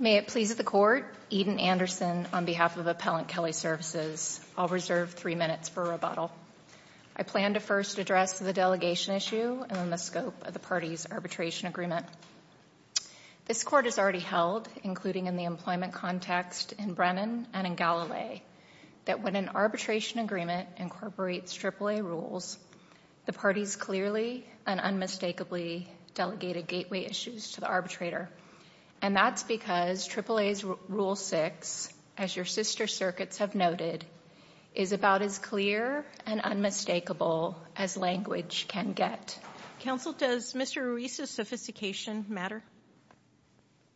May it please the Court, Eden Anderson on behalf of Appellant Kelly Services. I'll reserve three minutes for rebuttal. I plan to first address the delegation issue and then the scope of the party's arbitration agreement. This Court has already held, including in the employment context in Brennan and in Galilee, that when an arbitration agreement incorporates AAA rules, the parties clearly and unmistakably delegated gateway issues to the arbitrator. And that's because AAA's Rule 6, as your sister circuits have noted, is about as clear and unmistakable as language can get. Counsel, does Mr. Ruiz's sophistication matter?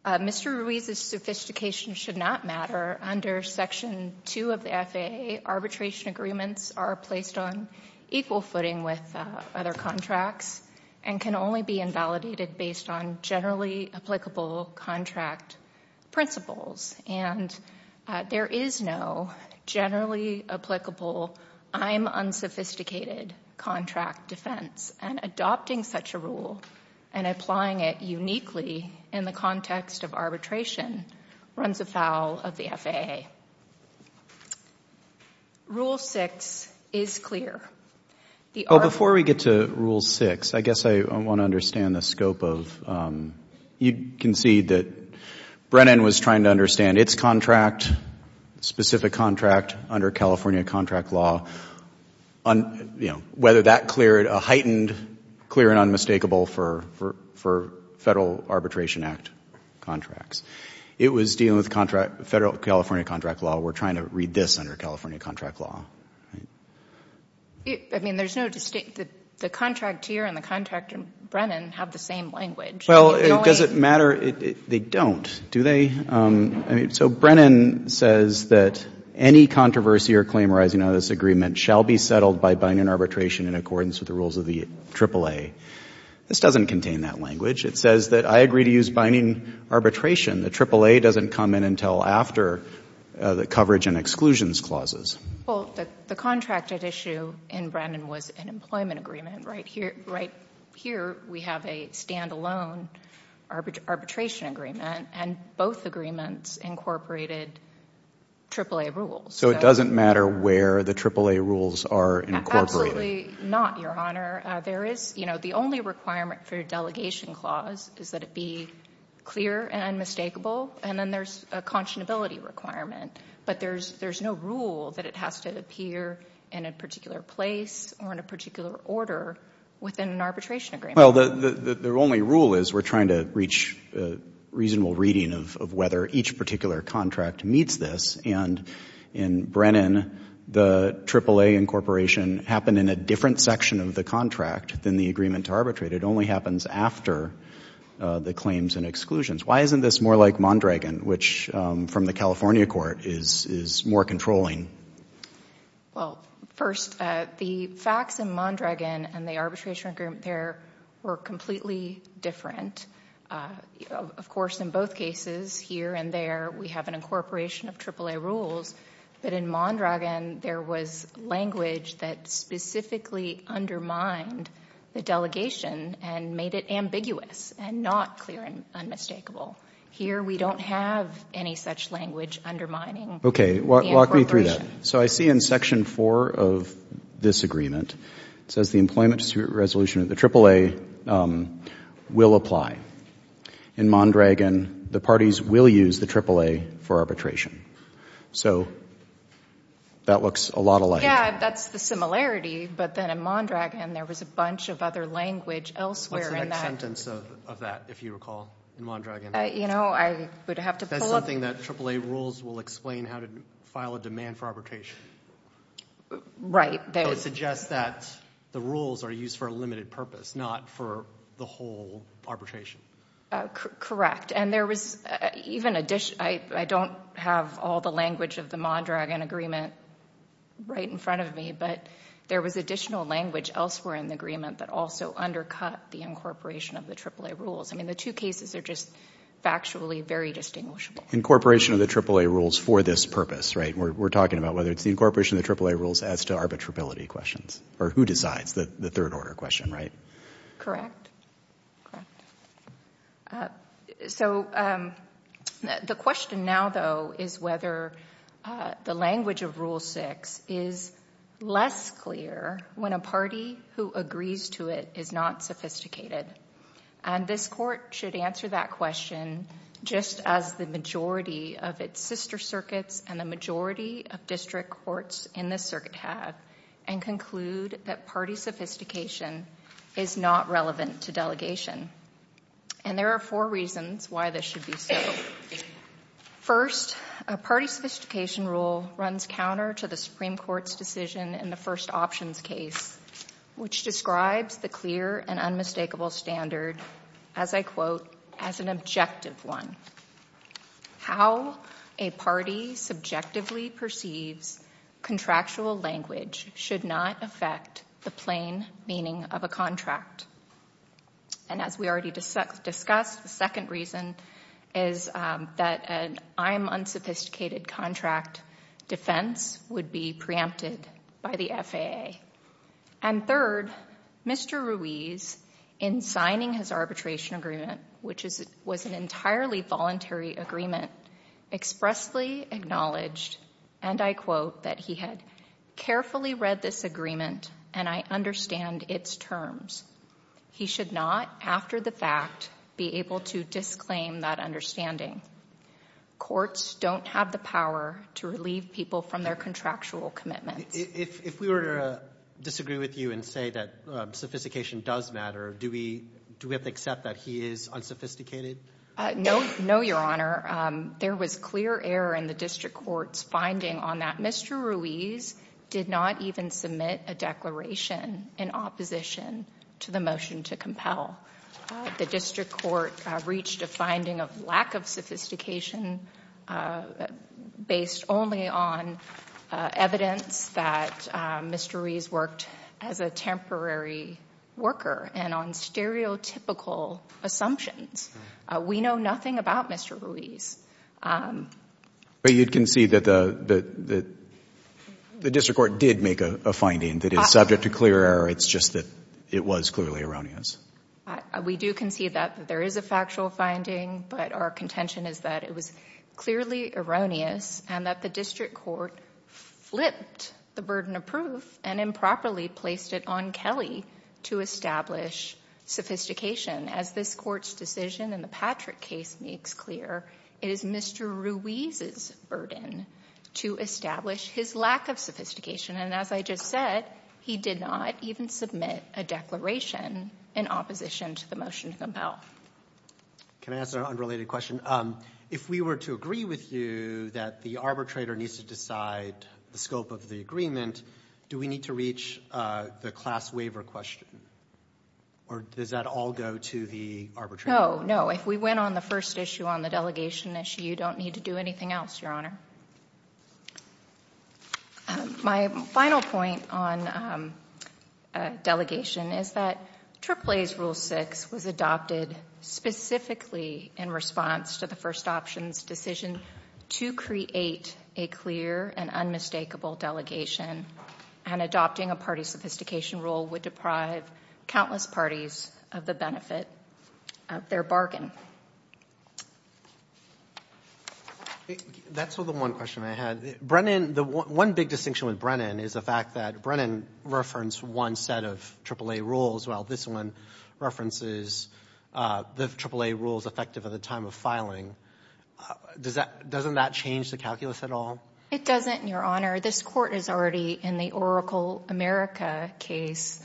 Mr. Ruiz's sophistication should not matter. Under Section 2 of the FAA, arbitration agreements are placed on equal footing with other contracts and can only be based on generally applicable contract principles. And there is no generally applicable, I'm unsophisticated contract defense. And adopting such a rule and applying it uniquely in the context of arbitration runs afoul of the FAA. Rule 6 is clear. Before we get to Rule 6, I guess I want to understand the scope of, you can see that Brennan was trying to understand its contract, specific contract under California contract law, whether that cleared a heightened, clear and unmistakable for Federal Arbitration Act contracts. It was dealing with federal California contract law. We're trying to read this under California contract law. I mean, there's no distinct, the contractor and the contractor, Brennan, have the same language. Well, does it matter? They don't, do they? So Brennan says that any controversy or claim arising out of this agreement shall be settled by binding arbitration in accordance with the rules of the AAA. This doesn't contain that language. It says that I agree to use binding arbitration. The AAA doesn't come in until after the coverage and exclusions clauses. Well, the contracted issue in Brennan was an employment agreement. Right here, we have a standalone arbitration agreement and both agreements incorporated AAA rules. So it doesn't matter where the AAA rules are incorporated? Absolutely not, Your Honor. There is, you know, the only requirement for a delegation clause is that it be clear and unmistakable. And then there's a conscionability requirement. But there's no rule that it has to appear in a particular place or in a particular order within an arbitration agreement. Well, the only rule is we're trying to reach a reasonable reading of whether each particular contract meets this. And in Brennan, the AAA incorporation happened in a different section of the contract than the agreement to arbitrate. It only happens after the claims and exclusions. Why isn't this more like Mondragon, which from the California court is more controlling? Well, first, the facts in Mondragon and the arbitration agreement there were completely different. Of course, in both cases, here and there, we have an incorporation of AAA rules. But in Mondragon, there was language that specifically undermined the delegation and made it ambiguous and not clear and unmistakable. Here, we don't have any such language undermining the incorporation. Okay, walk me through that. So I see in section four of this agreement, it says the employment dispute resolution of the AAA will apply. In Mondragon, the parties will use the AAA for arbitration. So that looks a lot alike. Yeah, that's the similarity. But in Mondragon, there was a bunch of other language elsewhere in that. What's the next sentence of that, if you recall, in Mondragon? You know, I would have to pull up. That's something that AAA rules will explain how to file a demand for arbitration. Right. So it suggests that the rules are used for a limited purpose, not for the whole arbitration. Correct. And there was even addition, I don't have all the language of the Mondragon agreement right in front of me, but there was additional language elsewhere in the agreement that also undercut the incorporation of the AAA rules. I mean, the two cases are just factually very distinguishable. Incorporation of the AAA rules for this purpose, right? We're talking about whether it's the incorporation of the AAA rules as to arbitrability questions, or who decides, the third order question, right? Correct. So the question now, though, is whether the language of Rule 6 is less clear when a party who agrees to it is not sophisticated. And this court should answer that question just as the majority of its sister circuits and the majority of district courts in this circuit have, and include that party sophistication is not relevant to delegation. And there are four reasons why this should be so. First, a party sophistication rule runs counter to the Supreme Court's decision in the first options case, which describes the clear and unmistakable standard, as I quote, as an objective one. How a party subjectively perceives contractual language should not affect the plain meaning of a contract. And as we already discussed, the second reason is that an I'm unsophisticated contract defense would be preempted by the FAA. And third, Mr. Ruiz, in signing his arbitration agreement, which was an entirely voluntary agreement, expressly acknowledged, and I quote, that he had carefully read this agreement and I understand its terms. He should not, after the fact, be able to disclaim that understanding. Courts don't have the power to relieve people from their contractual commitments. If we were to disagree with you and say that sophistication does matter, do we have to accept that he is unsophisticated? No, your honor. There was clear error in the district court's finding on that. Mr. Ruiz did not even submit a declaration in opposition to the motion to compel. The district court reached a finding of lack of sophistication based only on evidence that Mr. Ruiz worked as a temporary worker and on stereotypical assumptions. We know nothing about Mr. Ruiz. But you'd concede that the district court did make a finding that is subject to clear error. It's just that it was clearly erroneous. We do concede that there is a factual finding, but our contention is that it was clearly erroneous and that the district court flipped the burden of proof and improperly placed it on Kelly to establish sophistication. As this court's decision in the Patrick case makes clear, it is Mr. Ruiz's burden to establish his lack of sophistication. And as I just said, he did not even submit a declaration in opposition to the motion to compel. Can I ask an unrelated question? If we were to agree with you that the arbitrator needs to decide the scope of the agreement, do we need to reach the class waiver question? Or does that all go to the arbitrator? No, no. If we went on the first issue on the delegation issue, you don't need to do anything else, your honor. My final point on delegation is that AAA's Rule 6 was adopted specifically in response to the first option's decision to create a clear and unmistakable delegation, and adopting a party sophistication rule would deprive countless parties of the benefit of their bargain. That's the one question I had. Brennan, the one big distinction with Brennan is the fact that Brennan referenced one set of AAA rules while this one references the AAA rules effective at the time of filing. Doesn't that change the calculus at all? It doesn't, your honor. This Court has already, in the Oracle America case,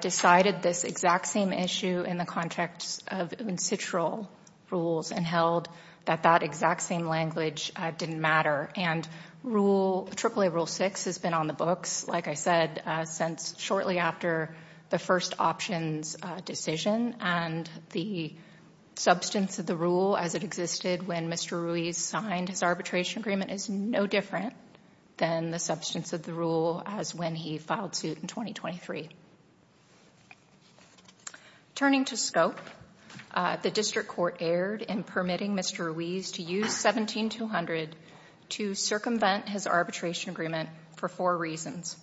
decided this exact same issue in the context of in-situ rules and held that that exact same language didn't matter. And AAA Rule 6 has been on the books, like I said, since shortly after the first option's decision, and the substance of the rule as it existed when Mr. Ruiz signed his arbitration agreement is no different than the substance of the rule as when he filed suit in 2023. Turning to scope, the District Court erred in permitting Mr. Ruiz to use 17-200 to circumvent his arbitration agreement for four reasons.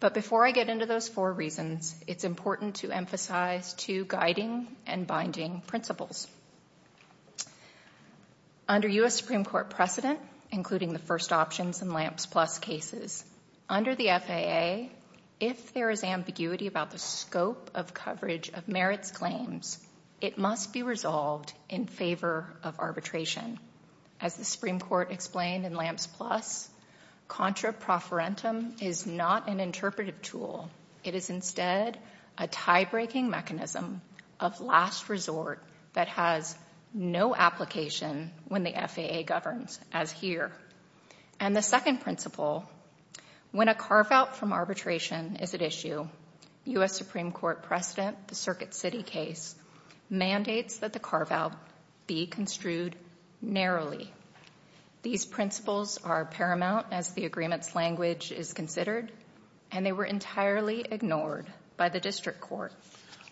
But before I get into those four reasons, it's important to emphasize two guiding and binding principles. Under U.S. Supreme Court precedent, including the first options in LAMPS Plus cases, under the FAA, if there is ambiguity about the scope of coverage of merits claims, it must be resolved in favor of arbitration. As the Supreme Court explained in LAMPS Plus, contra profferentum is not an interpretive tool. It is instead a tie-breaking mechanism of last resort that has no application when the FAA governs, as here. And the second principle, when a carve-out from arbitration is at issue, U.S. Supreme Court precedent, the Circuit City case, mandates that the carve-out be construed narrowly. These principles are paramount as the agreement's language is considered, and they were entirely ignored by the District Court.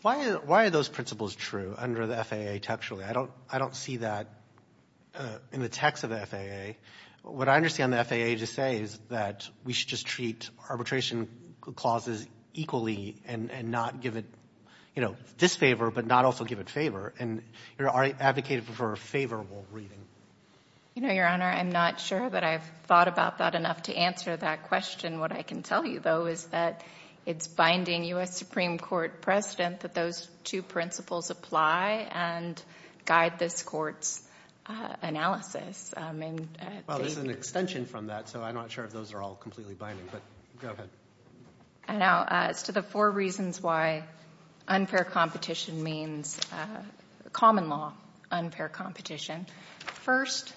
Why are those principles true under the FAA textually? I don't see that in the text of the FAA. What I understand the FAA to say is that we should just treat arbitration clauses equally and not give it, you know, disfavor, but not also give it favor. And you're advocating for favorable reading. You know, Your Honor, I'm not sure that I've thought about that enough to answer that question. What I can tell you, though, is that it's binding U.S. Supreme Court precedent that those two principles apply and guide this Court's analysis. Well, there's an extension from that, so I'm not sure if those are all completely binding, but go ahead. I know. As to the four reasons why unfair competition means common law unfair competition, first,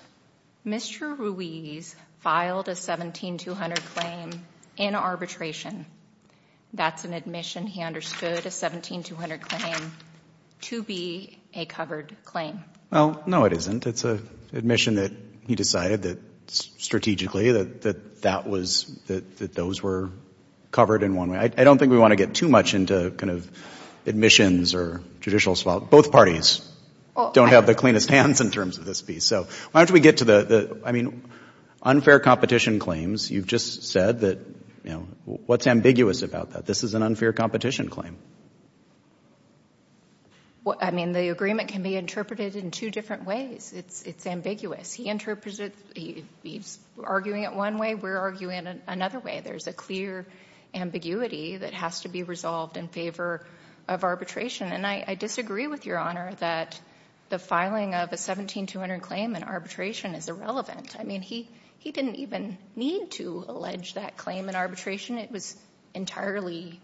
Mr. Ruiz filed a 17200 claim in arbitration. That's an admission. He understood a 17200 claim to be a covered claim. Well, no, it isn't. It's an admission that he decided that strategically that that was, that those were covered in one way. I don't think we want to get too much into kind of admissions or judicial swap. Both parties don't have the cleanest hands in terms of this piece. So why don't we get to the, I mean, unfair competition claims. You've just said that, you know, what's ambiguous about that? This is an unfair competition claim. Well, I mean, the agreement can be interpreted in two different ways. It's ambiguous. He there's a clear ambiguity that has to be resolved in favor of arbitration. And I disagree with Your Honor that the filing of a 17200 claim in arbitration is irrelevant. I mean, he didn't even need to allege that claim in arbitration. It was entirely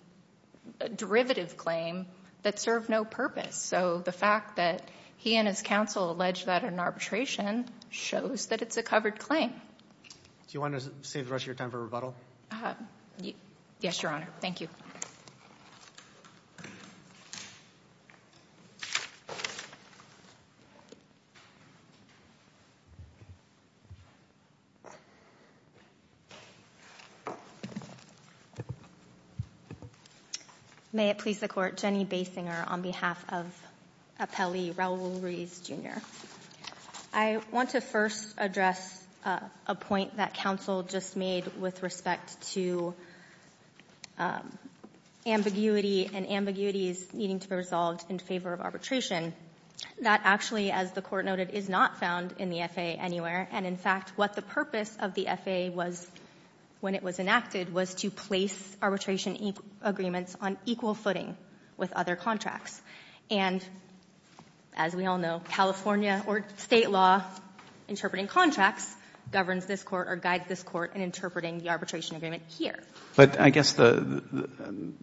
a derivative claim that served no purpose. So the fact that he and his counsel alleged that in arbitration shows that it's a covered claim. Do you want to save the rest of your time for rebuttal? Yes, Your Honor. Thank you. May it please the Court. Jenny Basinger on behalf of Appellee Raul Ruiz, Jr. I want to first address a point that counsel just made with respect to ambiguity and ambiguities needing to be resolved in favor of arbitration. That actually, as the Court noted, is not found in the F.A. anywhere. And in fact, what the purpose of the F.A. was when it was enacted was to place arbitration agreements on equal footing with other contracts. And as we all know, California or State law interpreting contracts governs this Court or guides this Court in interpreting the arbitration agreement here. But I guess some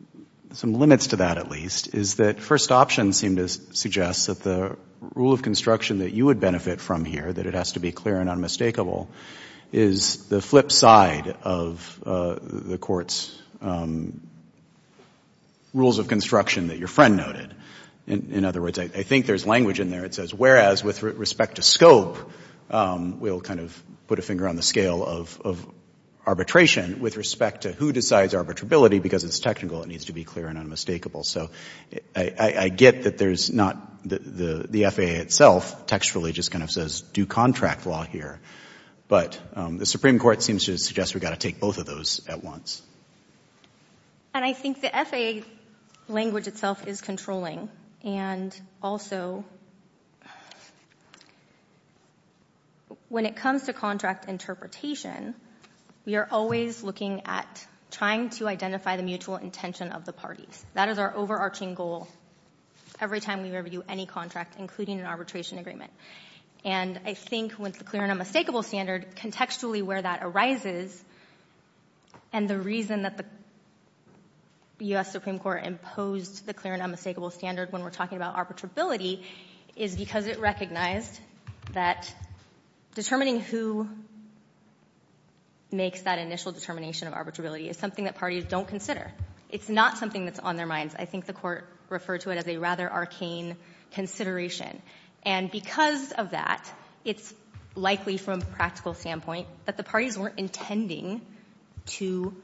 limits to that, at least, is that first option seemed to suggest that the rule of construction that you would benefit from here, that it has to be clear and unmistakable, is the flip side of the Court's rules of construction that your friend noted. In other words, I think there's language in there that says, whereas with respect to scope, we'll kind of put a finger on the scale of arbitration, with respect to who decides arbitrability, because it's technical, it needs to be clear and unmistakable. So I get that there's not the F.A. itself textually just kind of says do contract law here. But the Supreme Court seems to suggest we've got to take both of those at once. And I think the F.A. language itself is controlling. And also, when it comes to contract interpretation, we are always looking at trying to identify the mutual intention of the parties. That is our overarching goal every time we review any contract, including an arbitration agreement. And I think with the clear and unmistakable standard, contextually where that arises, and the reason that the U.S. Supreme Court imposed the clear and unmistakable standard when we're talking about arbitrability, is because it recognized that determining who makes that initial determination of arbitrability is something that parties don't consider. It's not something that's on their minds. I think the Court referred to it as a rather arcane consideration. And because of that, it's likely from a practical standpoint that the parties weren't intending to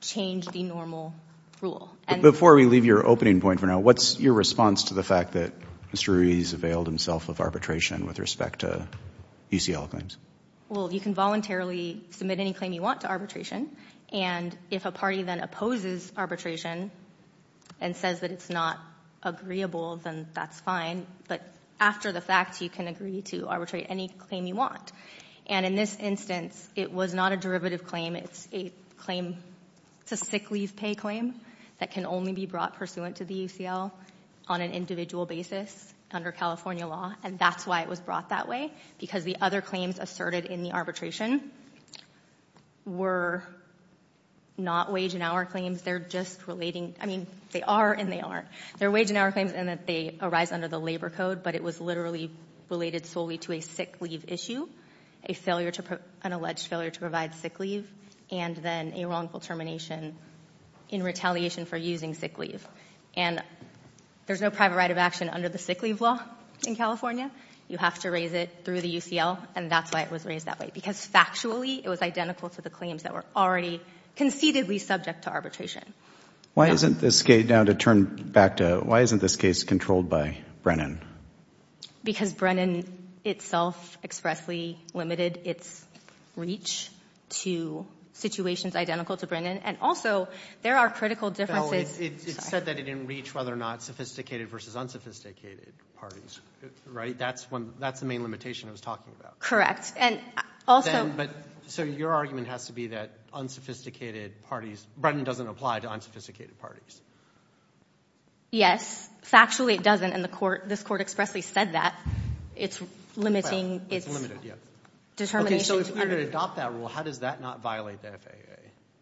change the normal rule. But before we leave your opening point for now, what's your response to the fact that Mr. Ruiz availed himself of arbitration with respect to UCL claims? Well, you can voluntarily submit any claim you want to arbitration. And if a party then opposes arbitration and says that it's not agreeable, then that's fine. But after the fact, you can agree to arbitrate any claim you want. And in this instance, it was not a derivative claim. It's a claim to sick leave pay claim that can only be brought pursuant to the UCL on an individual basis under California law. And that's why it was brought that way, because the other claims they're just relating, I mean, they are and they aren't. They're wage and hour claims and that they arise under the labor code, but it was literally related solely to a sick leave issue, a failure to, an alleged failure to provide sick leave, and then a wrongful termination in retaliation for using sick leave. And there's no private right of action under the sick leave law in California. You have to raise it through the UCL, and that's why it was raised that way, because factually it was identical to the claims that were already conceitedly subject to arbitration. Why isn't this case controlled by Brennan? Because Brennan itself expressly limited its reach to situations identical to Brennan. And also there are critical differences. It said that it didn't reach whether or not sophisticated versus unsophisticated parties, right? That's the main limitation it was talking about. Correct. And also... But so your argument has to be that unsophisticated parties, Brennan doesn't apply to unsophisticated parties. Yes, factually it doesn't. And the court, this court expressly said that it's limiting its... It's limited, yeah. Determination to... Okay, so if you're going to adopt that rule, how does that not violate the FAA?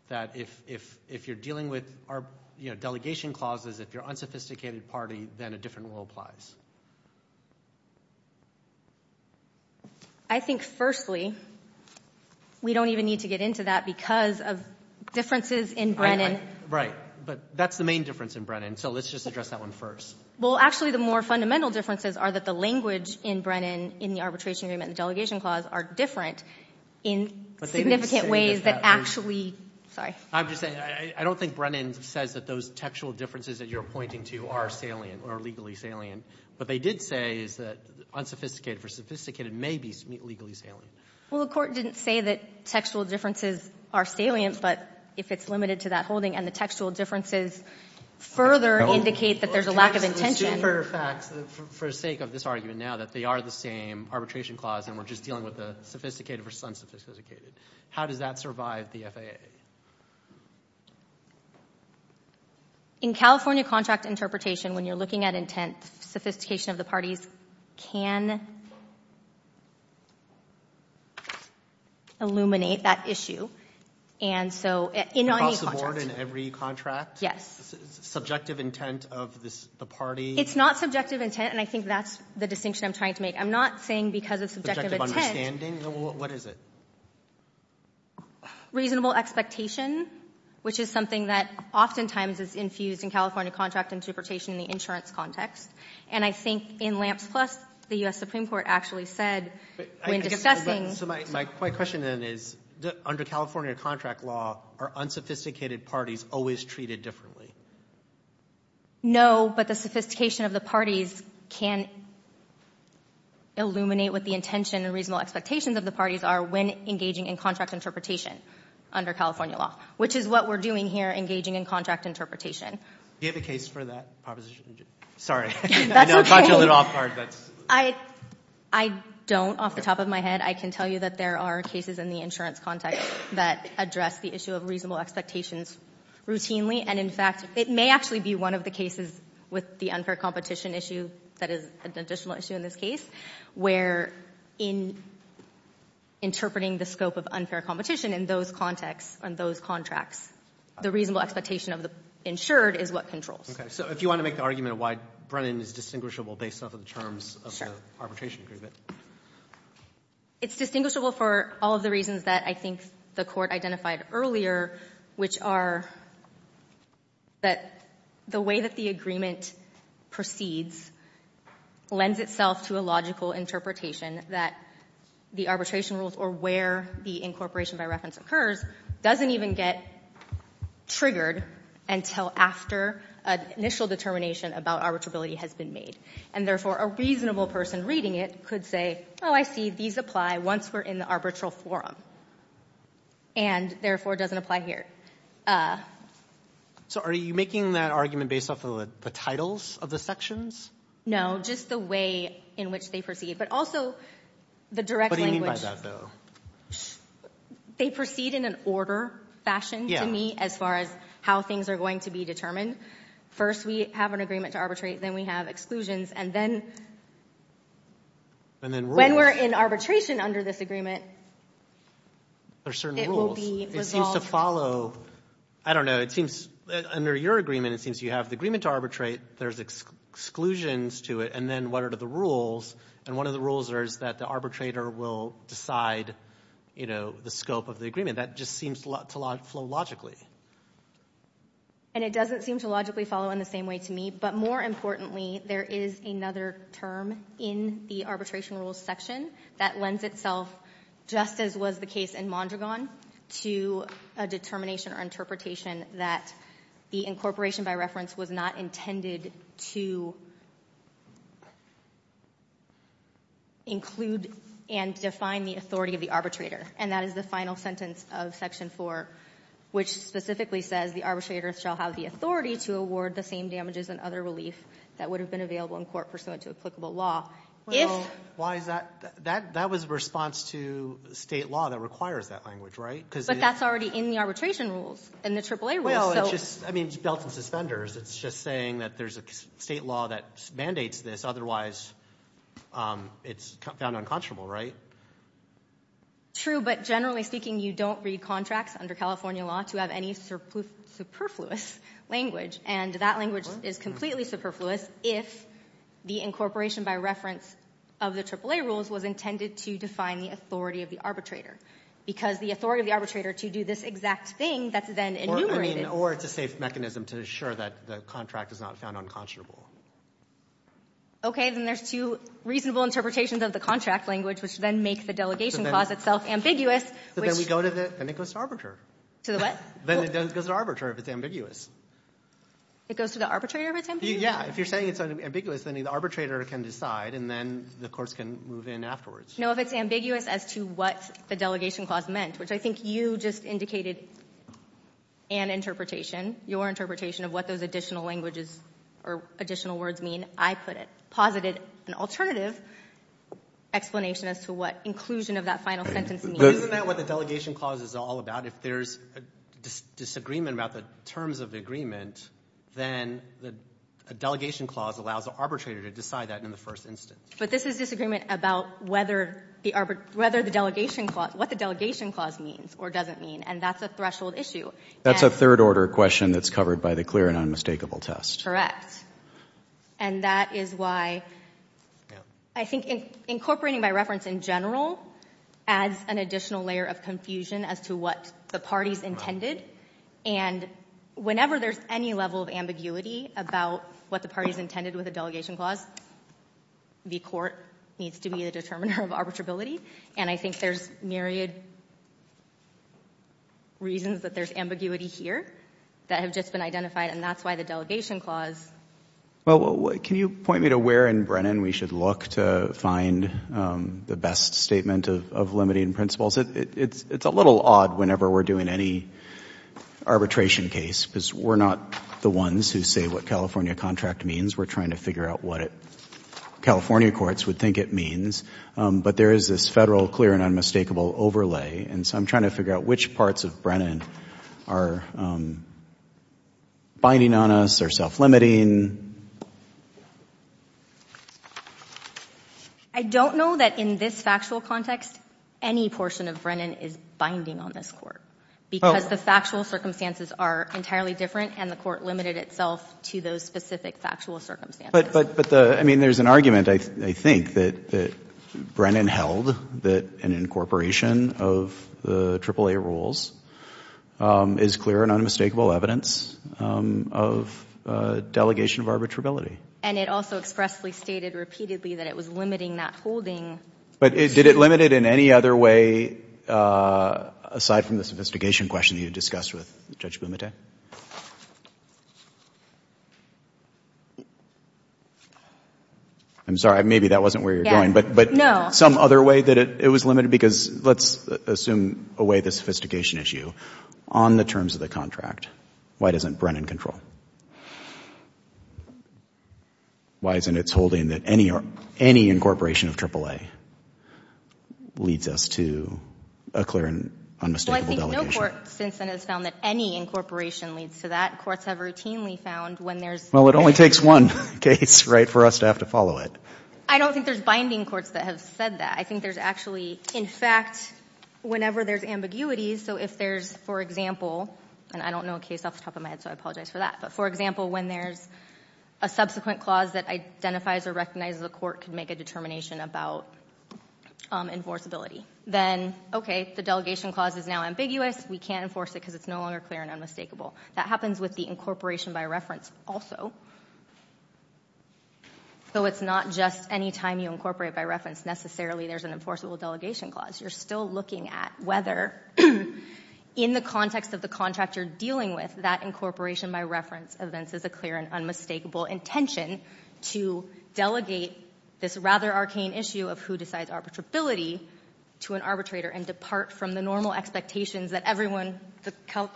That if you're dealing with our delegation clauses, if you're unsophisticated party, then a different rule applies. I think firstly, we don't even need to get into that because of differences in Brennan. Right. But that's the main difference in Brennan. So let's just address that one first. Well, actually the more fundamental differences are that the language in Brennan in the arbitration agreement and the delegation clause are different in significant ways that actually... I'm just saying, I don't think Brennan says that those textual differences that you're legally salient. What they did say is that unsophisticated versus sophisticated may be legally salient. Well, the court didn't say that textual differences are salient, but if it's limited to that holding and the textual differences further indicate that there's a lack of intention. Two further facts for sake of this argument now that they are the same arbitration clause and we're just dealing with the sophisticated versus unsophisticated. How does that survive the FAA? In California contract interpretation, when you're looking at intent, sophistication of the parties can illuminate that issue. And so in any contract... Across the board in every contract? Yes. Subjective intent of the party? It's not subjective intent and I think that's the distinction I'm trying to make. I'm not saying because it's subjective intent... Subjective understanding? What is it? Reasonable expectation, which is something that oftentimes is infused in California contract interpretation in the insurance context. And I think in LAMPS plus, the US Supreme Court actually said when discussing... So my question then is, under California contract law, are unsophisticated parties always treated differently? No, but the sophistication of the parties can illuminate what the intention and reasonable expectations of the parties are when engaging in contract interpretation under California law, which is what we're doing here, engaging in contract interpretation. Do you have a case for that proposition? Sorry, I know I caught you a little off guard. That's okay. I don't. Off the top of my head, I can tell you that there are cases in the insurance context that address the issue of reasonable expectations routinely. And in fact, it may actually be one of the cases with the unfair competition issue that is an additional issue in this case, where in interpreting the scope of unfair competition in those contexts, on those contracts, the reasonable expectation of the insured is what Okay. So if you want to make the argument of why Brennan is distinguishable based off of the terms of the arbitration agreement. It's distinguishable for all of the reasons that I think the Court identified earlier, which are that the way that the agreement proceeds lends itself to a logical interpretation that the arbitration rules or where the incorporation by reference occurs doesn't even get triggered until after an initial determination about arbitrability has been made. And therefore, a reasonable person reading it could say, oh, I see these apply once we're in the arbitral forum. And therefore, it doesn't apply here. So are you making that argument based off of the titles of the sections? No, just the way in which they proceed, but also the direct language. What do you mean by that, though? They proceed in an order fashion to me as far as how things are going to be determined. First, we have an agreement to arbitrate, then we have exclusions, and then And then rules. When we're in arbitration under this agreement, it will be resolved. There are certain rules. It seems to follow, I don't know, it seems under your agreement, it seems you have the agreement to arbitrate, there's exclusions to it, and then what are the rules? And one of the rules is that the arbitrator will decide the scope of the agreement. That just seems to flow logically. And it doesn't seem to logically follow in the same way to me. But more importantly, there is another term in the arbitration rules section that lends itself, just as was the case in Mondragon, to a determination or interpretation that the incorporation by reference was not intended to include and define the authority of the arbitrator. And that is the final sentence of section 4, which specifically says the arbitrator shall have the authority to award the same damages and other relief that would have been available in court pursuant to applicable law. Well, why is that? That was a response to state law that requires that language, right? But that's already in the arbitration rules, in the AAA rules. Well, it's just, I mean, it's built in suspenders. It's just saying that there's a state law that mandates this, otherwise it's found unconscionable, right? True, but generally speaking, you don't read contracts under California law to have any superfluous language, and that language is completely superfluous if the incorporation by reference of the AAA rules was intended to define the authority of the arbitrator, because the authority of the arbitrator to do this exact thing that's then enumerated. Or it's a safe mechanism to assure that the contract is not found unconscionable. Okay, then there's two reasonable interpretations of the contract language, which then make the delegation clause itself ambiguous. But then we go to the, then it goes to arbitrator. To the what? Then it goes to arbitrator if it's ambiguous. It goes to the arbitrator if it's ambiguous? Yeah, if you're saying it's ambiguous, then the arbitrator can decide, and then the courts can move in afterwards. No, if it's ambiguous as to what the delegation clause meant, which I think you just indicated an interpretation, your interpretation of what those additional languages or additional words mean, I put it, posited an alternative explanation as to what inclusion of that final sentence means. Isn't that what the delegation clause is all about? If there's a disagreement about the terms of the agreement, then the delegation clause allows the arbitrator to decide that in the first instance. But this is disagreement about whether the delegation clause, what the delegation clause means or doesn't mean. And that's a threshold issue. That's a third order question that's covered by the clear and unmistakable test. Correct. And that is why I think incorporating by reference in general adds an additional layer of confusion as to what the parties intended. And whenever there's any level of ambiguity about what the parties intended with a delegation clause, the court needs to be the determiner of arbitrability. And I think there's myriad reasons that there's ambiguity here that have just been identified. And that's why the delegation clause. Well, can you point me to where in Brennan we should look to find the best statement of limiting principles? It's a little odd whenever we're doing any arbitration case, because we're not the ones who say what California contract means. We're trying to figure out what California courts would think it means. But there is this federal clear and unmistakable overlay. And so I'm trying to figure out which parts of Brennan are binding on us or self-limiting. I don't know that in this factual context any portion of Brennan is binding on this court, because the factual circumstances are entirely different, and the court limited itself to those specific factual circumstances. But, I mean, there's an argument, I think, that Brennan held that an incorporation of the AAA rules is clear and unmistakable evidence of delegation of arbitrability. And it also expressly stated repeatedly that it was limiting that holding. But did it limit it in any other way aside from the sophistication question you discussed with Judge Bumate? I'm sorry. Maybe that wasn't where you're going. No. Some other way that it was limited? Because let's assume away the sophistication issue. On the terms of the contract, why doesn't Brennan control? Why isn't it holding that any incorporation of AAA leads us to a clear and unmistakable delegation? Well, I think no court since then has found that any incorporation leads to that. Courts have routinely found when there's... Well, it only takes one case, right, for us to have to follow it. I don't think there's binding courts that have said that. I think there's actually... In fact, whenever there's ambiguities, so if there's, for example... And I don't know a case off the top of my head, so I apologize for that. But for example, when there's a subsequent clause that identifies or recognizes a court could make a determination about enforceability, then, okay, the delegation clause is now ambiguous. We can't enforce it because it's no longer clear and unmistakable. That happens with the incorporation by reference also. So it's not just any time you incorporate by reference, necessarily there's an enforceable delegation clause. You're still looking at whether, in the context of the contract you're dealing with, that incorporation by reference events is a clear and unmistakable intention to delegate this rather arcane issue of who decides arbitrability to an arbitrator and depart from the normal expectations that everyone...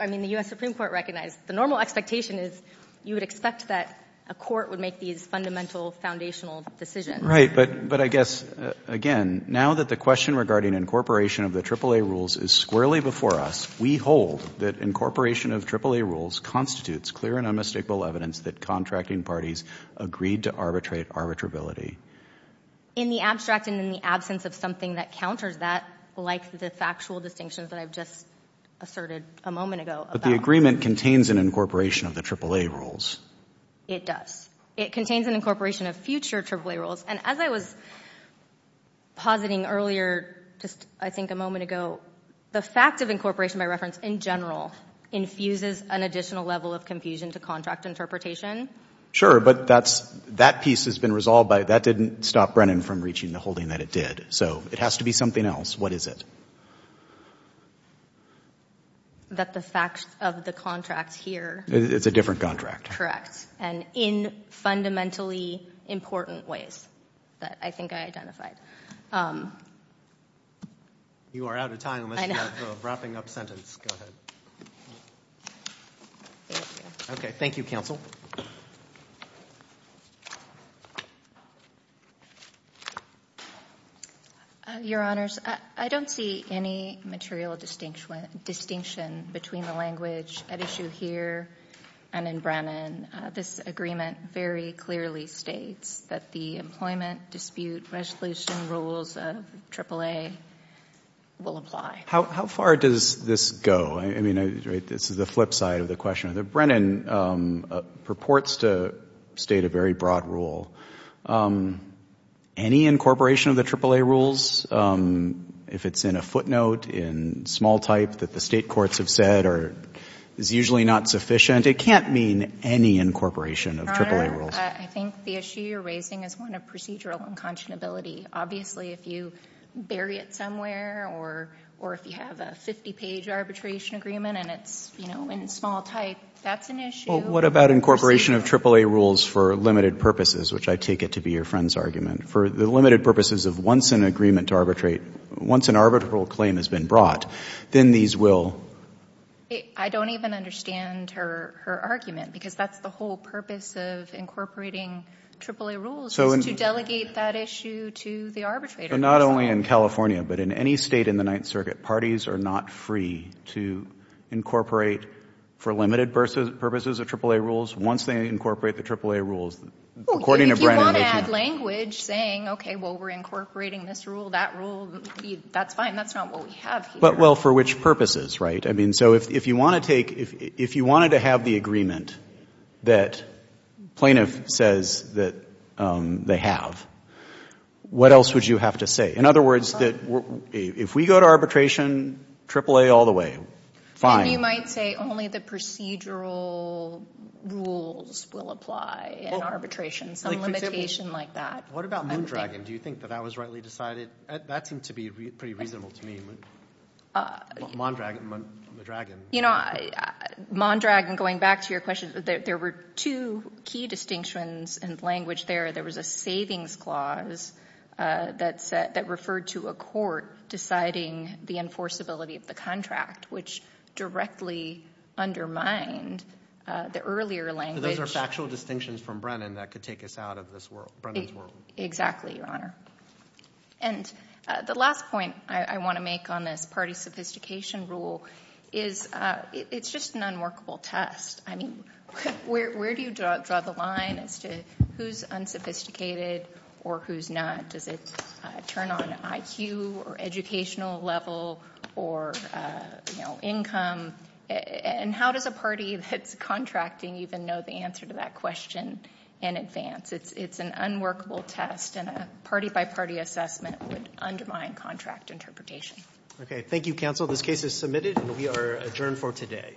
I mean, the US Supreme Court recognized. The normal expectation is you would expect that a court would make these fundamental foundational decisions. Right, but I guess, again, now that the question regarding incorporation of the AAA rules is squarely before us, we hold that incorporation of AAA rules constitutes clear and unmistakable evidence that contracting parties agreed to arbitrate arbitrability. In the abstract and in the absence of something that counters that, like the factual distinctions that I've just asserted a moment ago about... But the agreement contains an incorporation of the AAA rules. It does. It contains an incorporation of future AAA rules. And as I was positing earlier, just I think a moment ago, the fact of incorporation by reference in general infuses an additional level of confusion to contract interpretation. Sure, but that piece has been resolved by... That didn't stop Brennan from reaching the holding that it did. So it has to be something else. What is it? That the facts of the contract here... It's a different contract. Correct. And in fundamentally important ways that I think I identified. You are out of time unless you have a wrapping up sentence. Go ahead. Okay. Thank you, counsel. Your Honors, I don't see any material distinction between the language at issue here and in Brennan. This agreement very clearly states that the employment dispute resolution rules of AAA will apply. How far does this go? I mean, this is the flip side of the question. Brennan purports to state a very broad rule. Any incorporation of the AAA rules, if it's in a footnote in small type that the state courts have said is usually not sufficient, it can't mean any incorporation of AAA rules. I think the issue you're raising is one of procedural unconscionability. Obviously, if you bury it somewhere or if you have a 50-page arbitration agreement and it's in small type, that's an issue. What about incorporation of AAA rules for limited purposes, which I take it to be your friend's argument. For the limited purposes of once an agreement to arbitrate, once an arbitral claim has been brought, then these will... I don't even understand her argument, because that's the whole purpose of incorporating AAA rules, is to delegate that issue to the arbitrator. Not only in California, but in any state in the Ninth Circuit, parties are not free to incorporate for limited purposes of AAA rules once they incorporate the AAA rules, according to Brennan. If you want to add language saying, okay, well, we're incorporating this rule, that rule, that's fine. That's not what we have here. For which purposes, right? If you wanted to have the agreement that plaintiff says that they have, what else would you have to say? In other words, if we go to arbitration, AAA all the way, fine. You might say only the procedural rules will apply in arbitration, some limitation like that. What about Moondragon? Do you think that that was rightly decided? That seemed to be pretty reasonable to me. Moondragon, the dragon. Moondragon, going back to your question, there were two key distinctions in language there. There was a savings clause that referred to a court deciding the enforceability of the contract, which directly undermined the earlier language. Those are factual distinctions from Brennan that could take us out of this world, Brennan's world. Exactly, Your Honor. And the last point I want to make on this party sophistication rule is it's just an unworkable test. I mean, where do you draw the line as to who's unsophisticated or who's not? Does it turn on IQ or educational level or income? And how does a party that's contracting even know the answer to that question in advance? It's an unworkable test, and a party-by-party assessment would undermine contract interpretation. Okay, thank you, counsel. This case is submitted, and we are adjourned for today.